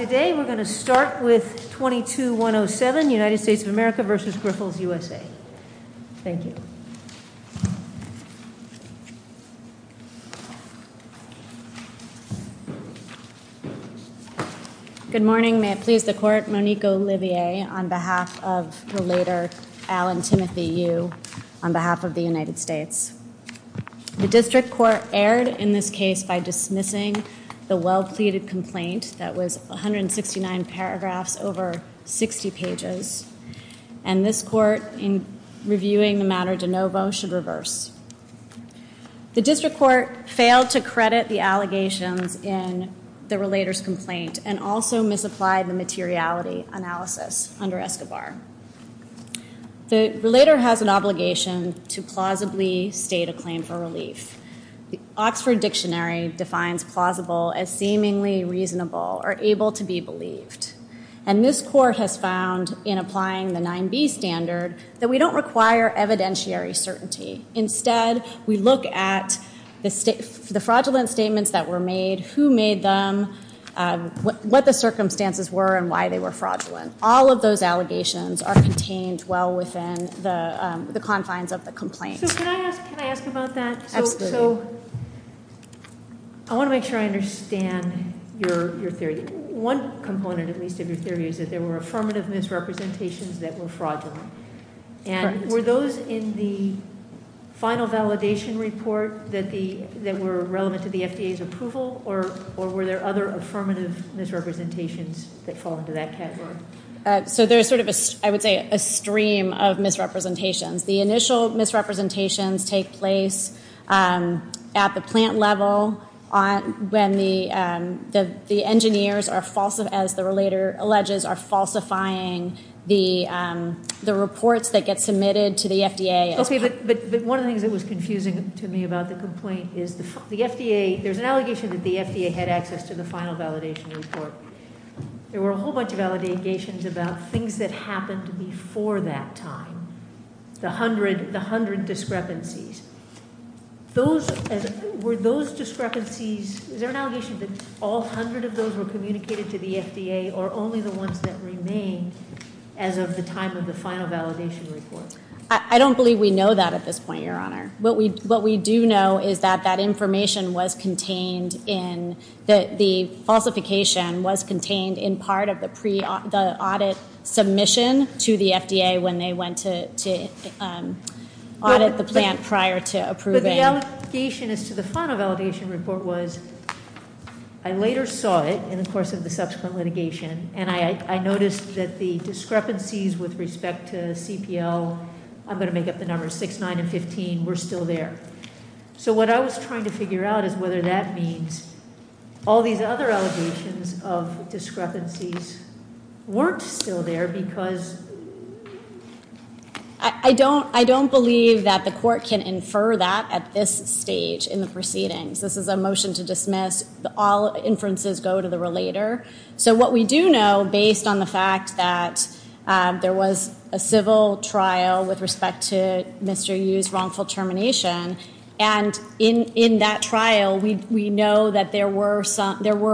Today we're going to start with 22-107, United States of America v. Grifols USA. Thank you. Good morning. May it please the court, Monique Olivier on behalf of the later Alan Timothy Yu on behalf of the United States. The district court erred in this case by dismissing the well-pleaded complaint that was 169 paragraphs over 60 pages. And this court, in reviewing the matter de novo, should reverse. The district court failed to credit the allegations in the relator's complaint and also misapplied the materiality analysis under Escobar. The relator has an obligation to plausibly state a claim for relief. The Oxford Dictionary defines plausible as seemingly reasonable or able to be believed. And this court has found in applying the 9b standard that we don't require evidentiary certainty. Instead, we look at the fraudulent statements that were made, who made them, what the circumstances were and why they were fraudulent. All of those allegations are contained well within the confines of the complaint. So can I ask about that? Absolutely. So I want to make sure I understand your theory. One component, at least, of your theory is that there were affirmative misrepresentations that were fraudulent. And were those in the final validation report that were relevant to the FDA's approval or were there other affirmative misrepresentations that fall into that category? So there's sort of, I would say, a stream of misrepresentations. The initial misrepresentations take place at the plant level when the engineers are, as the relator alleges, are falsifying the reports that get submitted to the FDA. Okay, but one of the things that was confusing to me about the complaint is the FDA, there's an allegation that the FDA had access to the final validation report. There were a whole bunch of allegations about things that happened before that time. The hundred discrepancies. Those, were those discrepancies, is there an allegation that all hundred of those were communicated to the FDA or only the ones that remained as of the time of the final validation report? I don't believe we know that at this point, Your Honor. What we do know is that that information was contained in, the falsification was contained in part of the audit submission to the FDA when they went to audit the plant prior to approving. But the allegation as to the final validation report was, I later saw it in the course of the subsequent litigation and I noticed that the discrepancies with respect to CPL, I'm going to make up the numbers, six, nine, and 15 were still there. So what I was trying to figure out is whether that means all these other allegations of discrepancies weren't still there because. I don't, I don't believe that the court can infer that at this stage in the proceedings. This is a motion to dismiss. All inferences go to the relator. So what we do know, based on the fact that there was a civil trial with respect to Mr. Yu's wrongful termination and in that trial, we know that there were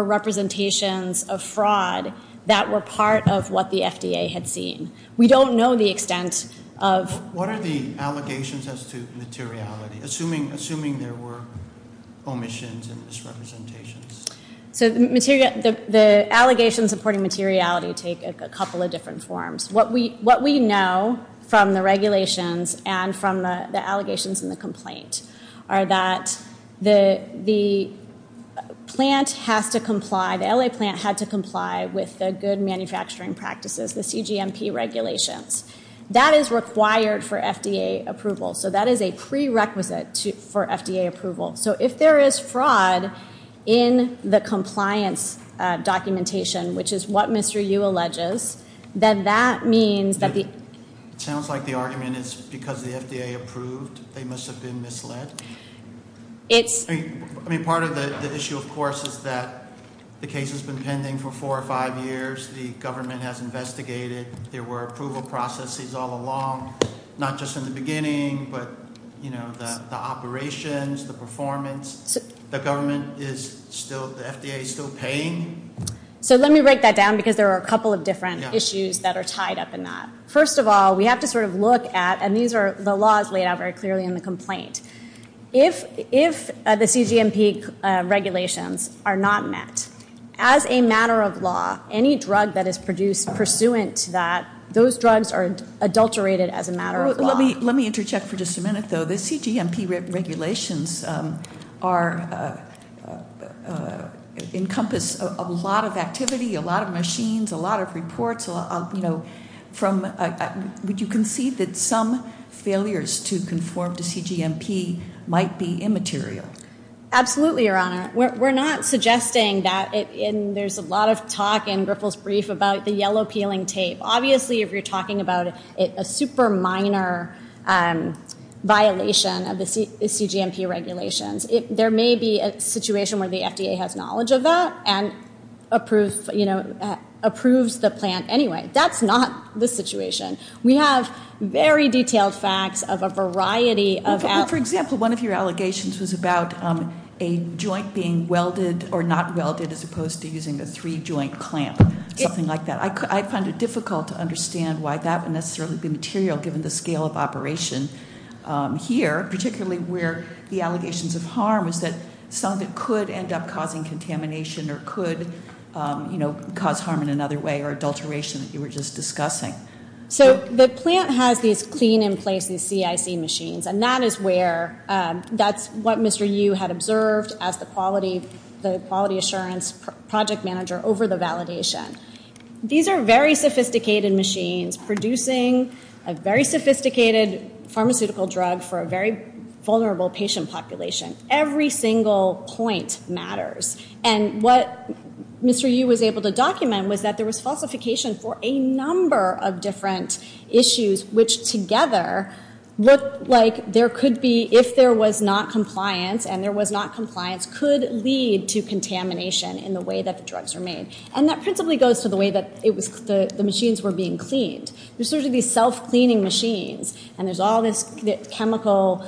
representations of fraud that were part of what the FDA had seen. We don't know the extent of. What are the allegations as to materiality, assuming there were omissions and misrepresentations? So the allegations supporting materiality take a couple of different forms. What we know from the regulations and from the allegations in the complaint are that the plant has to comply, the LA plant had to comply with the good manufacturing practices, the CGMP regulations. That is required for FDA approval. So that is a prerequisite for FDA approval. So if there is fraud in the compliance documentation, which is what Mr. Yu alleges, then that means that the. It sounds like the argument is because the FDA approved, they must have been misled. It's. I mean, part of the issue of course is that the case has been pending for four or five years. The government has investigated. There were approval processes all along, not just in the beginning, but you know, the operations, the performance, the government is still, the FDA is still paying. So let me break that down because there are a couple of different issues that are tied up in that. First of all, we have to sort of look at, and these are the laws laid out very clearly in the complaint. If, if the CGMP regulations are not met as a matter of law, any drug that is produced pursuant to that, those drugs are adulterated as a matter of law. Let me, let me interject for just a minute though. The CGMP regulations are, encompass a lot of activity, a lot of machines, a lot of reports, you know, from, would you concede that some failures to conform to CGMP might be immaterial? Absolutely, Your Honor. We're not suggesting that it, and there's a lot of talk in Griffith's brief about the yellow peeling tape. Obviously if you're talking about a super minor violation of the CGMP regulations, there may be a situation where the FDA has knowledge of that and approves, you know, approves the plant anyway. That's not the situation. We have very detailed facts of a variety of... For example, one of your allegations was about a joint being welded or not welded as opposed to using a three joint clamp, something like that. I find it difficult to understand why that would necessarily be material given the scale of operation here, particularly where the allegations of harm is that something could end up causing contamination or could, you know, cause harm in another way or adulteration that you were just discussing. So the plant has these clean in place, these CIC machines, and that is where, that's what the project manager over the validation. These are very sophisticated machines producing a very sophisticated pharmaceutical drug for a very vulnerable patient population. Every single point matters. And what Mr. Yu was able to document was that there was falsification for a number of different issues, which together look like there could be, if there was not a way that the drugs are made. And that principally goes to the way that it was, the machines were being cleaned. There's sort of these self-cleaning machines, and there's all this chemical,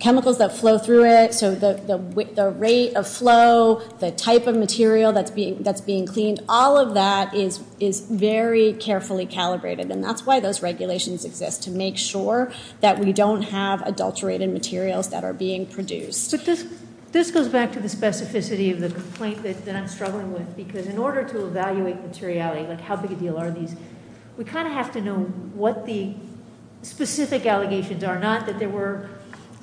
chemicals that flow through it. So the rate of flow, the type of material that's being cleaned, all of that is very carefully calibrated. And that's why those regulations exist, to make sure that we don't have adulterated materials that are being produced. This goes back to the specificity of the complaint that I'm struggling with, because in order to evaluate materiality, like how big a deal are these, we kind of have to know what the specific allegations are, not that there were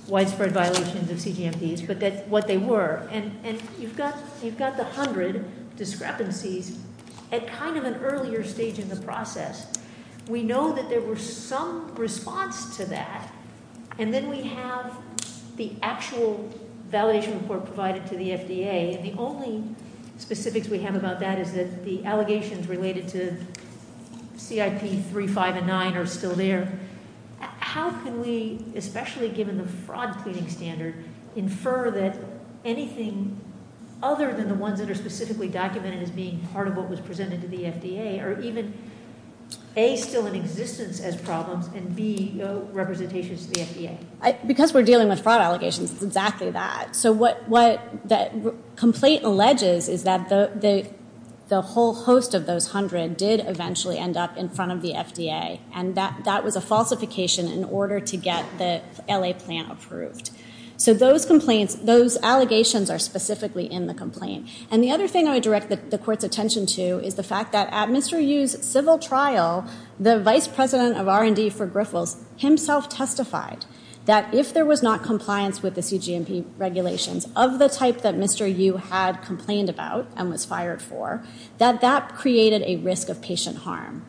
widespread violations of CGMDs, but what they were. And you've got the hundred discrepancies at kind of an earlier stage in the process. We know that there was some response to that, and then we have the actual validation report provided to the FDA. And the only specifics we have about that is that the allegations related to CIP 3, 5, and 9 are still there. How can we, especially given the fraud cleaning standard, infer that anything other than the ones that are specifically documented as being part of what was presented to the FDA are even, A, still in existence as problems, and B, representations to the FDA? Because we're dealing with fraud allegations, it's exactly that. So what the complaint alleges is that the whole host of those hundred did eventually end up in front of the FDA, and that was a falsification in order to get the LA plan approved. So those allegations are still there, and then the other thing I want to mention, too, is the fact that at Mr. Yu's civil trial, the vice president of R&D for Griffles himself testified that if there was not compliance with the CGMD regulations of the type that Mr. Yu had complained about and was fired for, that that created a risk of patient harm.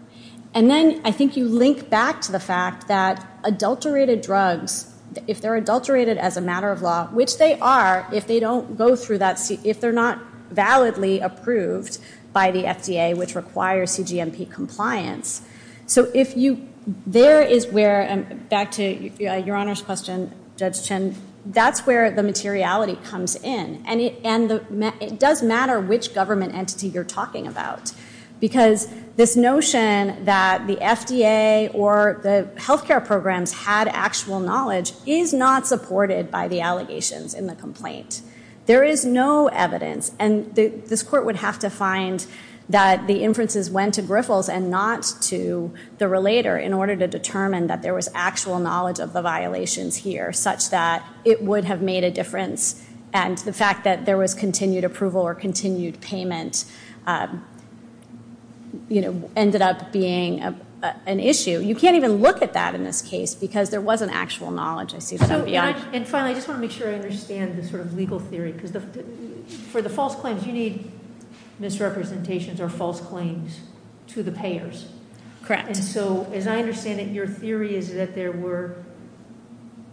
And then I think you link back to the fact that adulterated drugs, if they're adulterated as a matter of law, which they are if they don't go through that, if they're not validly approved by the FDA, which requires CGMP compliance. So if you, there is where, back to Your Honor's question, Judge Chen, that's where the materiality comes in. And it does matter which government entity you're talking about, because this notion that the FDA or the healthcare programs had actual knowledge is not supported by the allegations in the complaint. There is no evidence, and this court would have to find that the inferences went to Griffles and not to the relator in order to determine that there was actual knowledge of the violations here such that it would have made a difference, and the fact that there was continued approval or continued payment ended up being an issue. You can't even look at that in this case because there wasn't actual knowledge. I see that I'm beyond. And finally, I just want to make sure I understand the sort of legal theory, because for the false claims, you need misrepresentations or false claims to the payers. Correct. And so as I understand it, your theory is that there were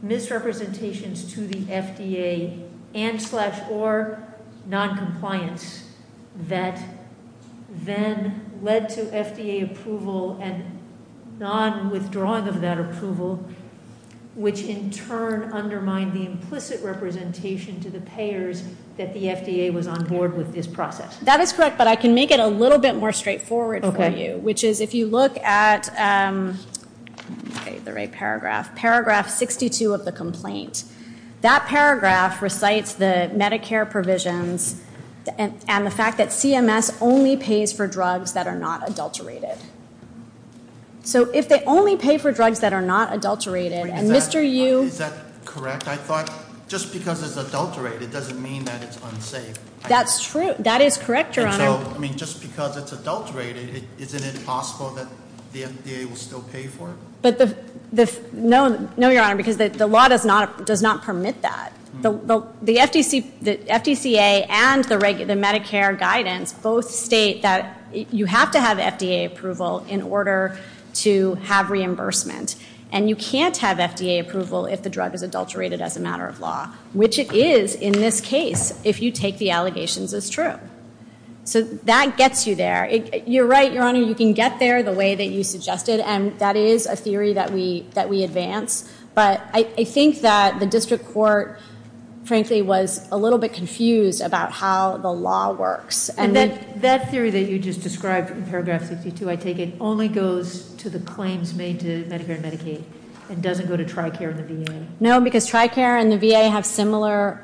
misrepresentations to the FDA and slash or noncompliance that then led to FDA approval and nonwithdrawal of that approval, which in turn undermined the implicit representation to the payers that the FDA was on board with this process. That is correct, but I can make it a little bit more straightforward for you, which is if you look at the right paragraph, paragraph 62 of the complaint, that paragraph recites the Medicare provisions and the fact that CMS only pays for drugs that are not adulterated. So if they only pay for drugs that are not adulterated and Mr. Yu... Is that correct? I thought just because it's adulterated doesn't mean that it's unsafe. That's true. That is correct, Your Honor. And so, I mean, just because it's adulterated, isn't it possible that the FDA will still pay for it? No, Your Honor, because the law does not permit that. The FDCA and the Medicare guidance both state that you have to have FDA approval in order to have reimbursement, and you can't have FDA approval if the drug is adulterated as a matter of law, which it is in this case if you take the allegations as true. So that gets you there. You're right, Your Honor, you can get there the way that you suggested, and that is a theory that we advance, but I think that the district court, frankly, was a little bit confused about how the law works. And that theory that you just described in paragraph 62, I take it, only goes to the claims made to Medicare and Medicaid and doesn't go to TRICARE and the VA? No, because TRICARE and the VA have similar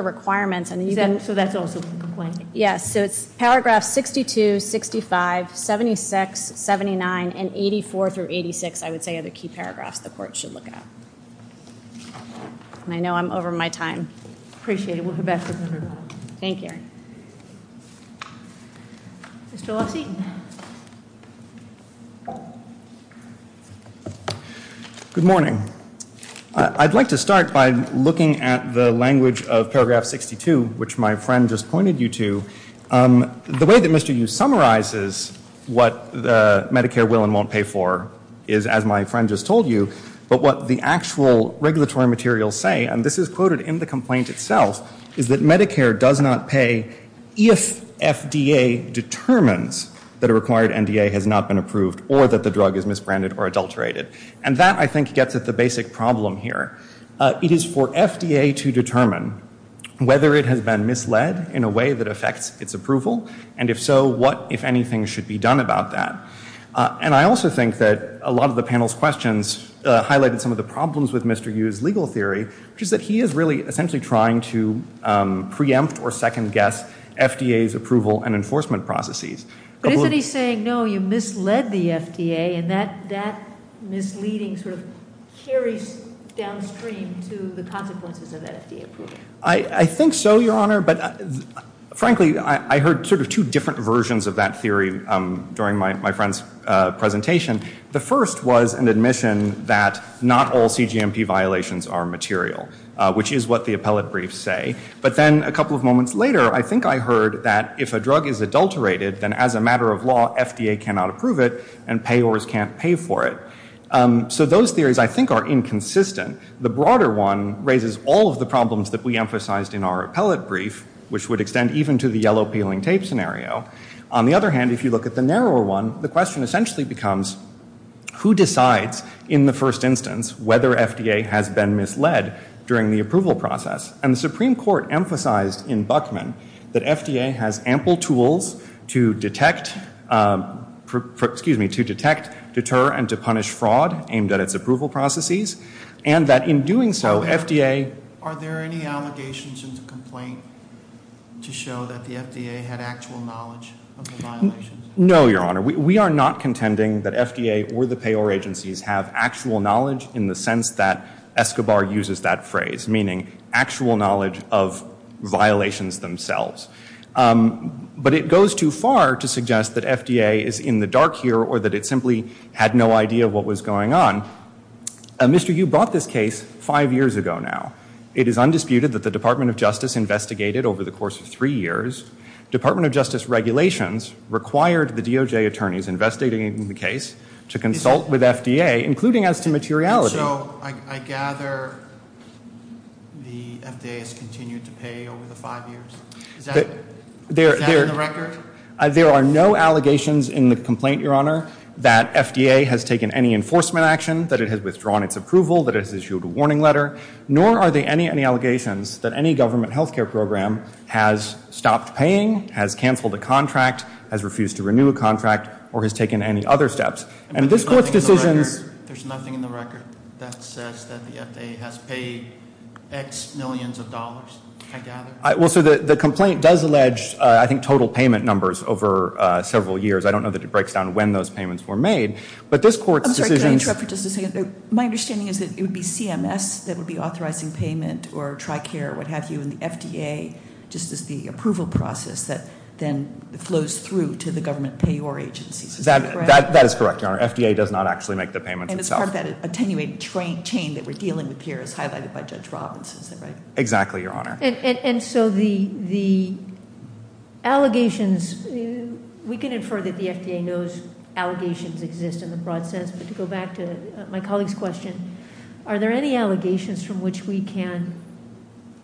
requirements. So that's also a complaint? Yes, so it's paragraph 62, 65, 76, 79, and 84 through 86, I would say, are the key paragraphs the court should look at. And I know I'm over my time. Appreciate it. We'll go back to the room. Thank you. Mr. Lockseaton. Good morning. I'd like to start by looking at the language of paragraph 62, which my friend just pointed you to. The way that Mr. Yu summarizes what Medicare will and won't pay for is, as my friend just told you, but what the actual regulatory materials say, and this is quoted in the complaint itself, is that Medicare does not pay if FDA determines that a required NDA has not been approved or that the drug is misbranded or adulterated. And that, I think, gets at the basic problem here. It is for FDA to determine whether it has been misled in a way that affects its approval, and if so, what, if anything, should be done about that. And I also think that a lot of the panel's questions highlighted some of the problems with Mr. Yu's legal theory, which is that he is really essentially trying to preempt or second-guess FDA's approval and enforcement processes. But isn't he saying, no, you misled the FDA, and that misleading sort of carries downstream to the consequences of that FDA approval? I think so, Your Honor. Frankly, I heard sort of two different versions of that theory during my friend's presentation. The first was an admission that not all CGMP violations are material, which is what the appellate briefs say. But then a couple of moments later, I think I heard that if a drug is adulterated, then as a matter of law, FDA cannot approve it and payors can't pay for it. So those theories, I think, are inconsistent. The broader one raises all of the problems that we emphasized in our appellate brief, which would extend even to the yellow peeling tape scenario. On the other hand, if you look at the narrower one, the question essentially becomes, who decides in the first instance whether FDA has been misled during the approval process? And the Supreme Court emphasized in Buckman that FDA has ample tools to detect, excuse me, to detect, deter, and to punish fraud aimed at its approval processes, and that in doing so, FDA... Are there any allegations in the complaint to show that the FDA had actual knowledge of the violations? No, Your Honor. We are not contending that FDA or the payor agencies have actual knowledge in the sense that Escobar uses that phrase, meaning actual knowledge of violations themselves. But it goes too far to suggest that FDA is in the dark here or that it simply had no idea what was going on. Mr. Yu brought this case five years ago now. It is undisputed that the Department of Justice investigated over the course of three years. Department of Justice regulations required the DOJ attorneys investigating the case to consult with FDA, including as to materiality. So I gather the FDA has continued to pay over the five years? Is that in the record? There are no allegations in the complaint, Your Honor, that FDA has taken any enforcement action, that it has withdrawn its approval, that it has issued a warning letter, nor are there any allegations that any government health care program has stopped paying, has canceled a contract, has refused to renew a contract, or has taken any other steps. And this Court's decisions... There's nothing in the record that says that the FDA has paid X millions of dollars, I gather? Well, so the complaint does allege, I think, total payment numbers over several years. I don't know that it breaks down when those payments were made. But this Court's decisions... I'm sorry, can I interrupt for just a second? My understanding is that it would be CMS that would be authorizing payment or TRICARE, what have you, and the FDA just is the approval process that then flows through to the government payor agencies. Is that correct? That is correct, Your Honor. FDA does not actually make the payments itself. And it's part of that attenuated chain that we're dealing with here, as highlighted by Judge Robinson, is that right? Exactly, Your Honor. And so the allegations... We can infer that the FDA knows allegations exist in the broad sense, but to go back to my colleague's question, are there any allegations from which we can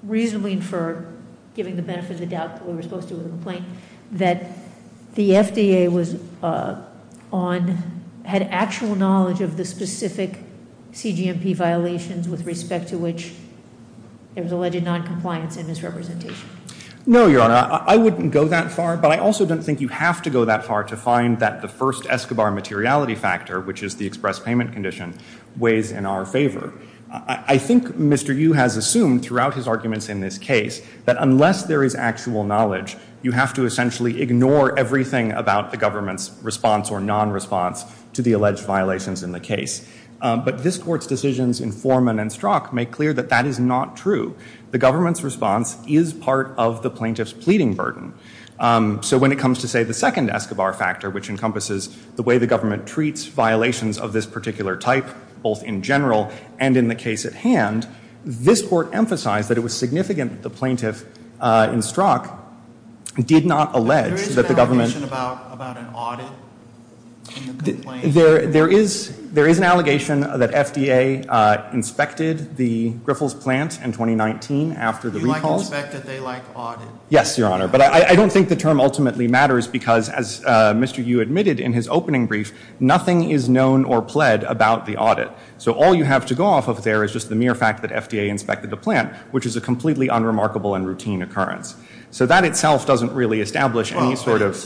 reasonably infer, given the benefit of the doubt that we were supposed to with the complaint, that the FDA had actual knowledge of the specific CGMP violations with respect to which there was alleged noncompliance and misrepresentation? No, Your Honor. I wouldn't go that far, but I also don't think you have to go that far to find that the first Escobar materiality factor, which is the express payment condition, weighs in our favor. I think Mr. Yu has assumed throughout his arguments in this case that unless there is actual knowledge, you have to essentially ignore everything about the government's response or nonresponse to the alleged violations in the case. But this Court's decisions in Foreman and Strzok make clear that that is not true. The government's response is part of the plaintiff's pleading burden. So when it comes to, say, the second Escobar factor, which encompasses the way the government treats violations of this particular type, both in general and in the case at hand, this Court emphasized that it was significant that the plaintiff in Strzok did not allege that the government... There is an allegation about an audit in the complaint? There is an allegation that FDA inspected the Griffles plant in 2019 after the recalls. You like inspected, they like audited. Yes, Your Honor. But I don't think the term ultimately matters because, as Mr. Yu admitted in his opening brief, nothing is known or pled about the audit. So all you have to go off of there is just the mere fact that FDA inspected the plant, which is a completely unremarkable and routine occurrence. So that itself doesn't really establish any sort of...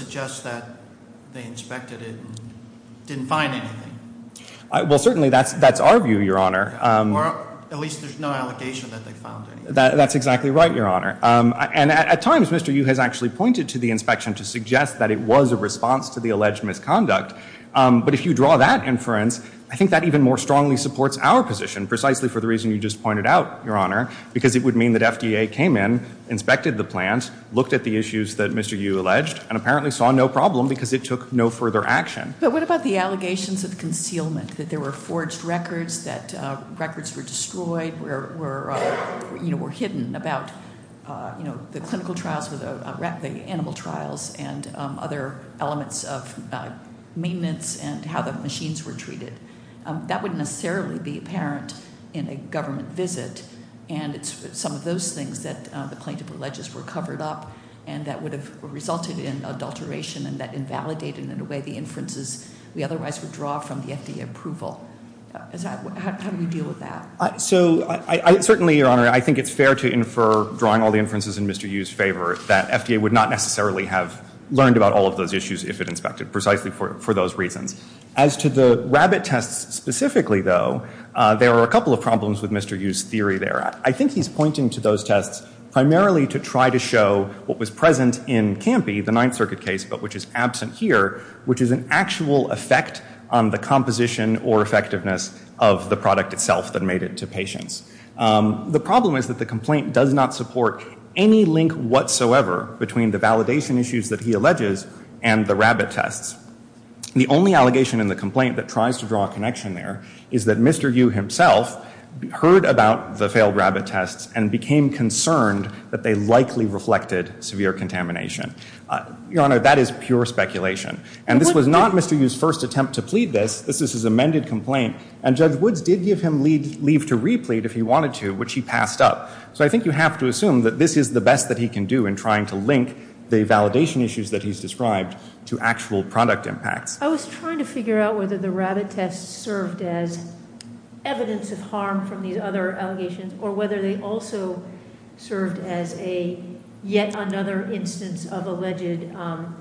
Well, certainly that's our view, Your Honor. Or at least there's no allegation that they found anything. That's exactly right, Your Honor. And at times, Mr. Yu has actually pointed to the inspection to suggest that it was a response to the alleged misconduct. But if you draw that inference, I think that even more strongly supports our position, precisely for the reason you just pointed out, Your Honor, because it would mean that FDA came in, inspected the plant, looked at the issues that Mr. Yu alleged, and apparently saw no problem because it took no further action. But what about the allegations of concealment, that there were forged records, that records were destroyed, were hidden about the clinical trials or the animal trials and other elements of maintenance and how the machines were treated? That wouldn't necessarily be apparent in a government visit, and it's some of those things that the plaintiff alleges were covered up and that would have resulted in adulteration and that invalidated in a way the inferences we otherwise would draw from the FDA approval. How do we deal with that? So certainly, Your Honor, I think it's fair to infer, drawing all the inferences in Mr. Yu's favor, that FDA would not necessarily have learned about all of those issues if it inspected, precisely for those reasons. As to the rabbit tests specifically, though, there are a couple of problems with Mr. Yu's theory there. I think he's pointing to those tests primarily to try to show what was present in Campy, the Ninth Circuit case, but which is absent here, which is an actual effect on the composition or effectiveness of the product itself that made it to patients. The problem is that the complaint does not support any link whatsoever between the validation issues that he alleges and the rabbit tests. The only allegation in the complaint that tries to draw a connection there is that Mr. Yu himself heard about the failed rabbit tests and became concerned that they likely reflected severe contamination. Your Honor, that is pure speculation. And this was not Mr. Yu's first attempt to plead this. This is his amended complaint. And Judge Woods did give him leave to replead if he wanted to, which he passed up. So I think you have to assume that this is the best that he can do in trying to link the validation issues that he's described to actual product impacts. I was trying to figure out whether the rabbit tests served as evidence of harm from these other allegations or whether they also served as yet another instance of alleged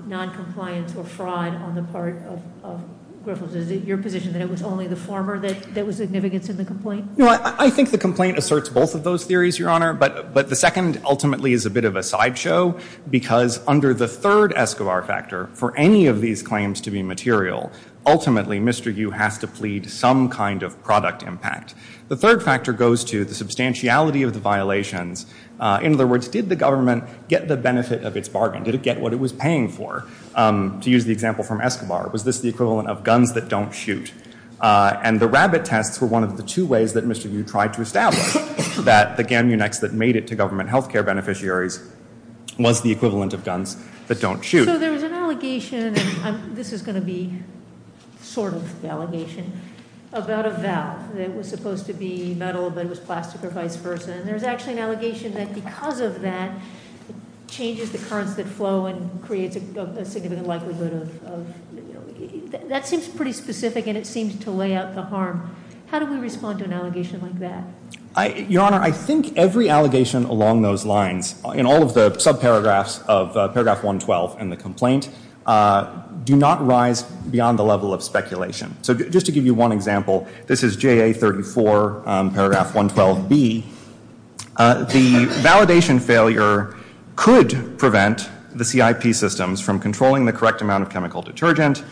noncompliance or fraud on the part of Griffiths. Is it your position that it was only the former that was significant in the complaint? I think the complaint asserts both of those theories, Your Honor. But the second ultimately is a bit of a sideshow because under the third Escobar factor, for any of these claims to be material, ultimately Mr. Yu has to plead some kind of product impact. The third factor goes to the substantiality of the violations. In other words, did the government get the benefit of its bargain? Did it get what it was paying for? To use the example from Escobar, was this the equivalent of guns that don't shoot? And the rabbit tests were one of the two ways that Mr. Yu tried to establish that the Gamunex that made it to government health care beneficiaries was the equivalent of guns that don't shoot. So there was an allegation, and this is going to be sort of the allegation, about a valve that was supposed to be metal but it was plastic or vice versa. And there's actually an allegation that because of that it changes the currents that flow and creates a significant likelihood of, you know, that seems pretty specific and it seems to lay out the harm. How do we respond to an allegation like that? Your Honor, I think every allegation along those lines, in all of the subparagraphs of paragraph 112 in the complaint, do not rise beyond the level of speculation. So just to give you one example, this is JA 34, paragraph 112B. The validation failure could prevent the CIP systems from controlling the correct amount of chemical detergent,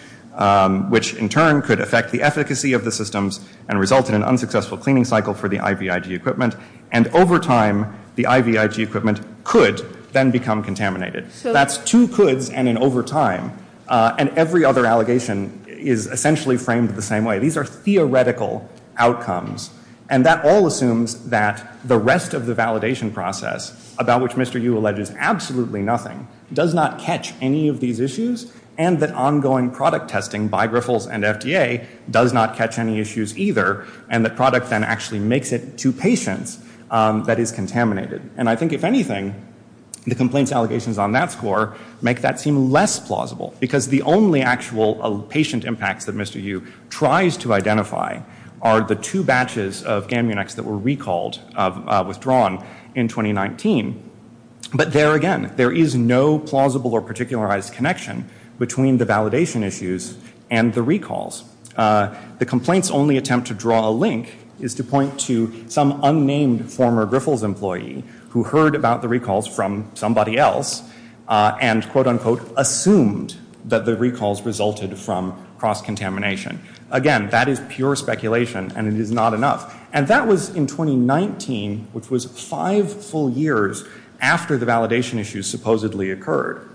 which in turn could affect the efficacy of the systems and result in an unsuccessful cleaning cycle for the IVIG equipment. And over time, the IVIG equipment could then become contaminated. That's two coulds and an over time. And every other allegation is essentially framed the same way. These are theoretical outcomes. And that all assumes that the rest of the validation process, about which Mr. Yu alleges absolutely nothing, does not catch any of these issues and that ongoing product testing by Griffles and FDA does not catch any issues either and the product then actually makes it to patients that is contaminated. And I think, if anything, the complaint's allegations on that score make that seem less plausible because the only actual patient impacts that Mr. Yu tries to identify are the two batches of Gamunex that were recalled, withdrawn in 2019. But there again, there is no plausible or particularized connection between the validation issues and the recalls. The complaint's only attempt to draw a link is to point to some unnamed former Griffles employee who heard about the recalls from somebody else and quote-unquote assumed that the recalls resulted from cross-contamination. Again, that is pure speculation and it is not enough. And that was in 2019, which was five full years after the validation issues supposedly occurred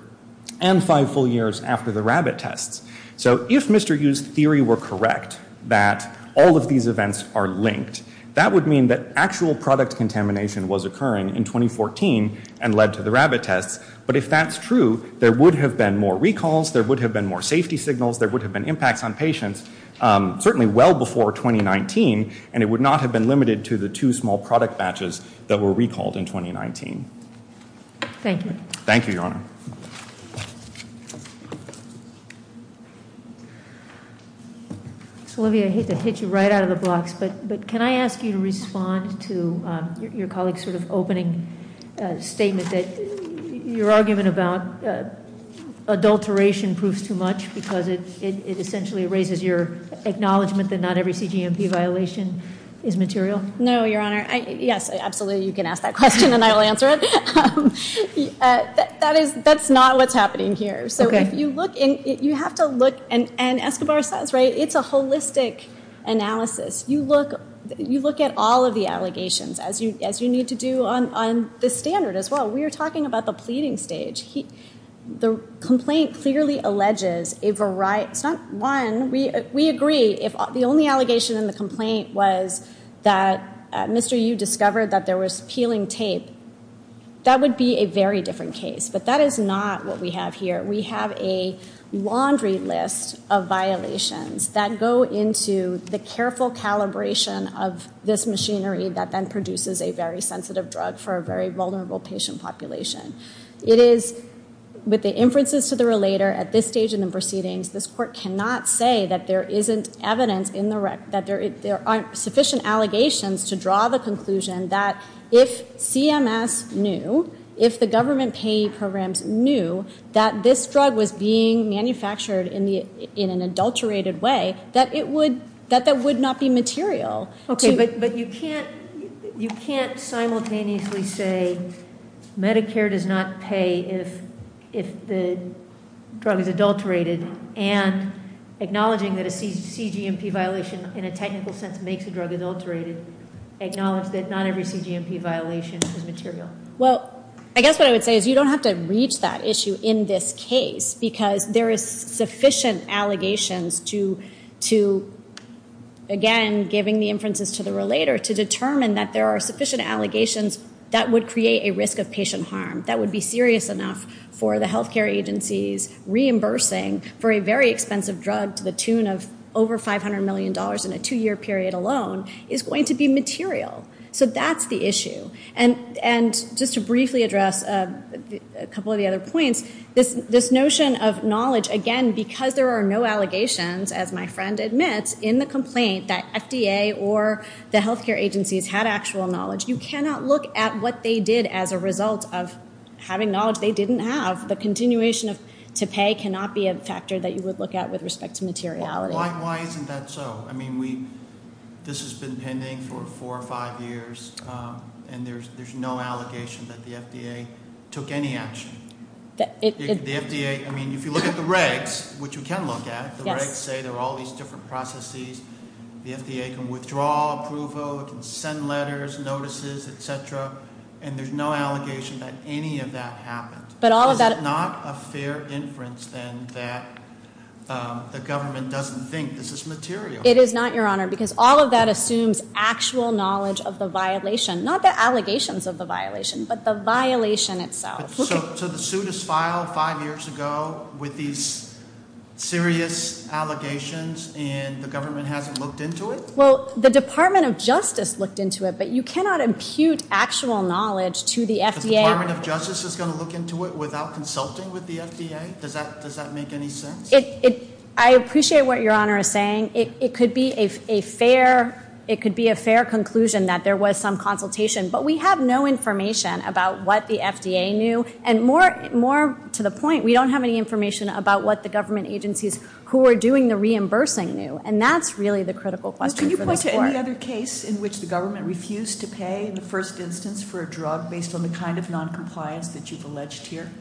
and five full years after the rabbit tests. So if Mr. Yu's theory were correct that all of these events are linked, that would mean that actual product contamination was occurring in 2014 and led to the rabbit tests. But if that's true, there would have been more recalls, there would have been more safety signals, there would have been impacts on patients certainly well before 2019 and it would not have been limited to the two small product batches that were recalled in 2019. Thank you. Thank you, Your Honor. Olivia, I hate to hit you right out of the box, but can I ask you to respond to your colleague's sort of opening statement that your argument about adulteration proves too much because it essentially raises your acknowledgement that not every CGMP violation is material? No, Your Honor. Yes, absolutely you can ask that question and I'll answer it. That's not what's happening here. You have to look, and Escobar says, right, it's a holistic analysis. You look at all of the allegations as you need to do on this standard as well. We are talking about the pleading stage. The complaint clearly alleges a variety. It's not one. We agree if the only allegation in the complaint was that Mr. Yu discovered that there was peeling tape, that would be a very different case, but that is not what we have here. We have a laundry list of violations that go into the careful calibration of this machinery that then produces a very sensitive drug for a very vulnerable patient population. It is with the inferences to the relator at this stage in the proceedings, this court cannot say that there isn't evidence in the record, that there aren't sufficient allegations to draw the conclusion that if CMS knew, if the government payee programs knew that this drug was being manufactured in an adulterated way, that that would not be material. Okay, but you can't simultaneously say Medicare does not pay if the drug is adulterated and acknowledging that a CGMP violation in a technical sense makes a drug adulterated, Well, I guess what I would say is you don't have to reach that issue in this case because there is sufficient allegations to, again, giving the inferences to the relator to determine that there are sufficient allegations that would create a risk of patient harm, that would be serious enough for the healthcare agencies reimbursing for a very expensive drug to the tune of over $500 million in a two-year period alone is going to be material. So that's the issue. And just to briefly address a couple of the other points, this notion of knowledge, again, because there are no allegations, as my friend admits, in the complaint, that FDA or the healthcare agencies had actual knowledge, you cannot look at what they did as a result of having knowledge they didn't have. The continuation to pay cannot be a factor that you would look at with respect to materiality. Why isn't that so? I mean, this has been pending for four or five years, and there's no allegation that the FDA took any action. The FDA, I mean, if you look at the regs, which you can look at, the regs say there are all these different processes. The FDA can withdraw approval, it can send letters, notices, et cetera, and there's no allegation that any of that happened. Is it not a fair inference, then, that the government doesn't think this is material? It is not, Your Honor, because all of that assumes actual knowledge of the violation, not the allegations of the violation, but the violation itself. So the suit is filed five years ago with these serious allegations, and the government hasn't looked into it? Well, the Department of Justice looked into it, but you cannot impute actual knowledge to the FDA. The Department of Justice is going to look into it without consulting with the FDA? Does that make any sense? I appreciate what Your Honor is saying. It could be a fair conclusion that there was some consultation, but we have no information about what the FDA knew, and more to the point, we don't have any information about what the government agencies who are doing the reimbursing knew, and that's really the critical question for this court. Can you point to any other case in which the government refused to pay, in the first instance, for a drug based on the kind of noncompliance that you've alleged here?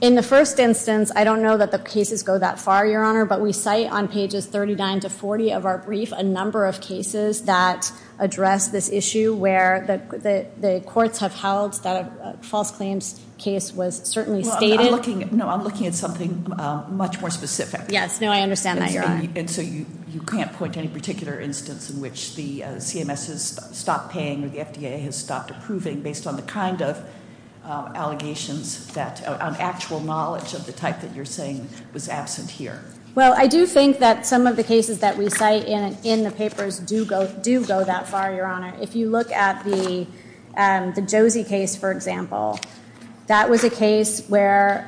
In the first instance, I don't know that the cases go that far, Your Honor, but we cite on pages 39 to 40 of our brief a number of cases that address this issue where the courts have held that a false claims case was certainly stated. No, I'm looking at something much more specific. Yes, no, I understand that, Your Honor. And so you can't point to any particular instance in which the CMS has stopped paying or the FDA has stopped approving based on the kind of allegations, on actual knowledge of the type that you're saying was absent here. Well, I do think that some of the cases that we cite in the papers do go that far, Your Honor. If you look at the Josie case, for example, that was a case where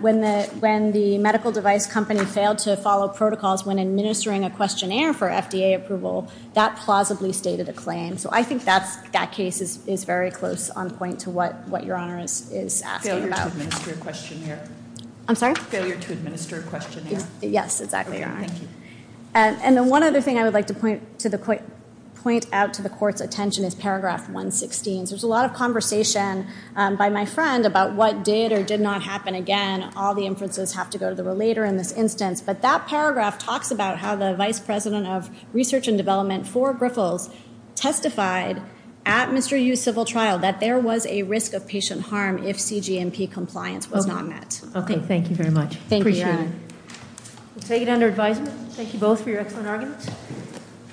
when the medical device company failed to follow protocols when administering a questionnaire for FDA approval, that plausibly stated a claim. So I think that case is very close on point to what Your Honor is asking about. Failure to administer a questionnaire. I'm sorry? Failure to administer a questionnaire. Yes, exactly, Your Honor. Okay, thank you. And then one other thing I would like to point out to the court's attention is paragraph 116. There's a lot of conversation by my friend about what did or did not happen again. All the inferences have to go to the relator in this instance. But that paragraph talks about how the vice president of research and development for Griffels testified at Mr. Yu's civil trial that there was a risk of patient harm if CG&P compliance was not met. Okay, thank you very much. Thank you, Your Honor. Appreciate it. We'll take it under advisement. Thank you both for your excellent arguments.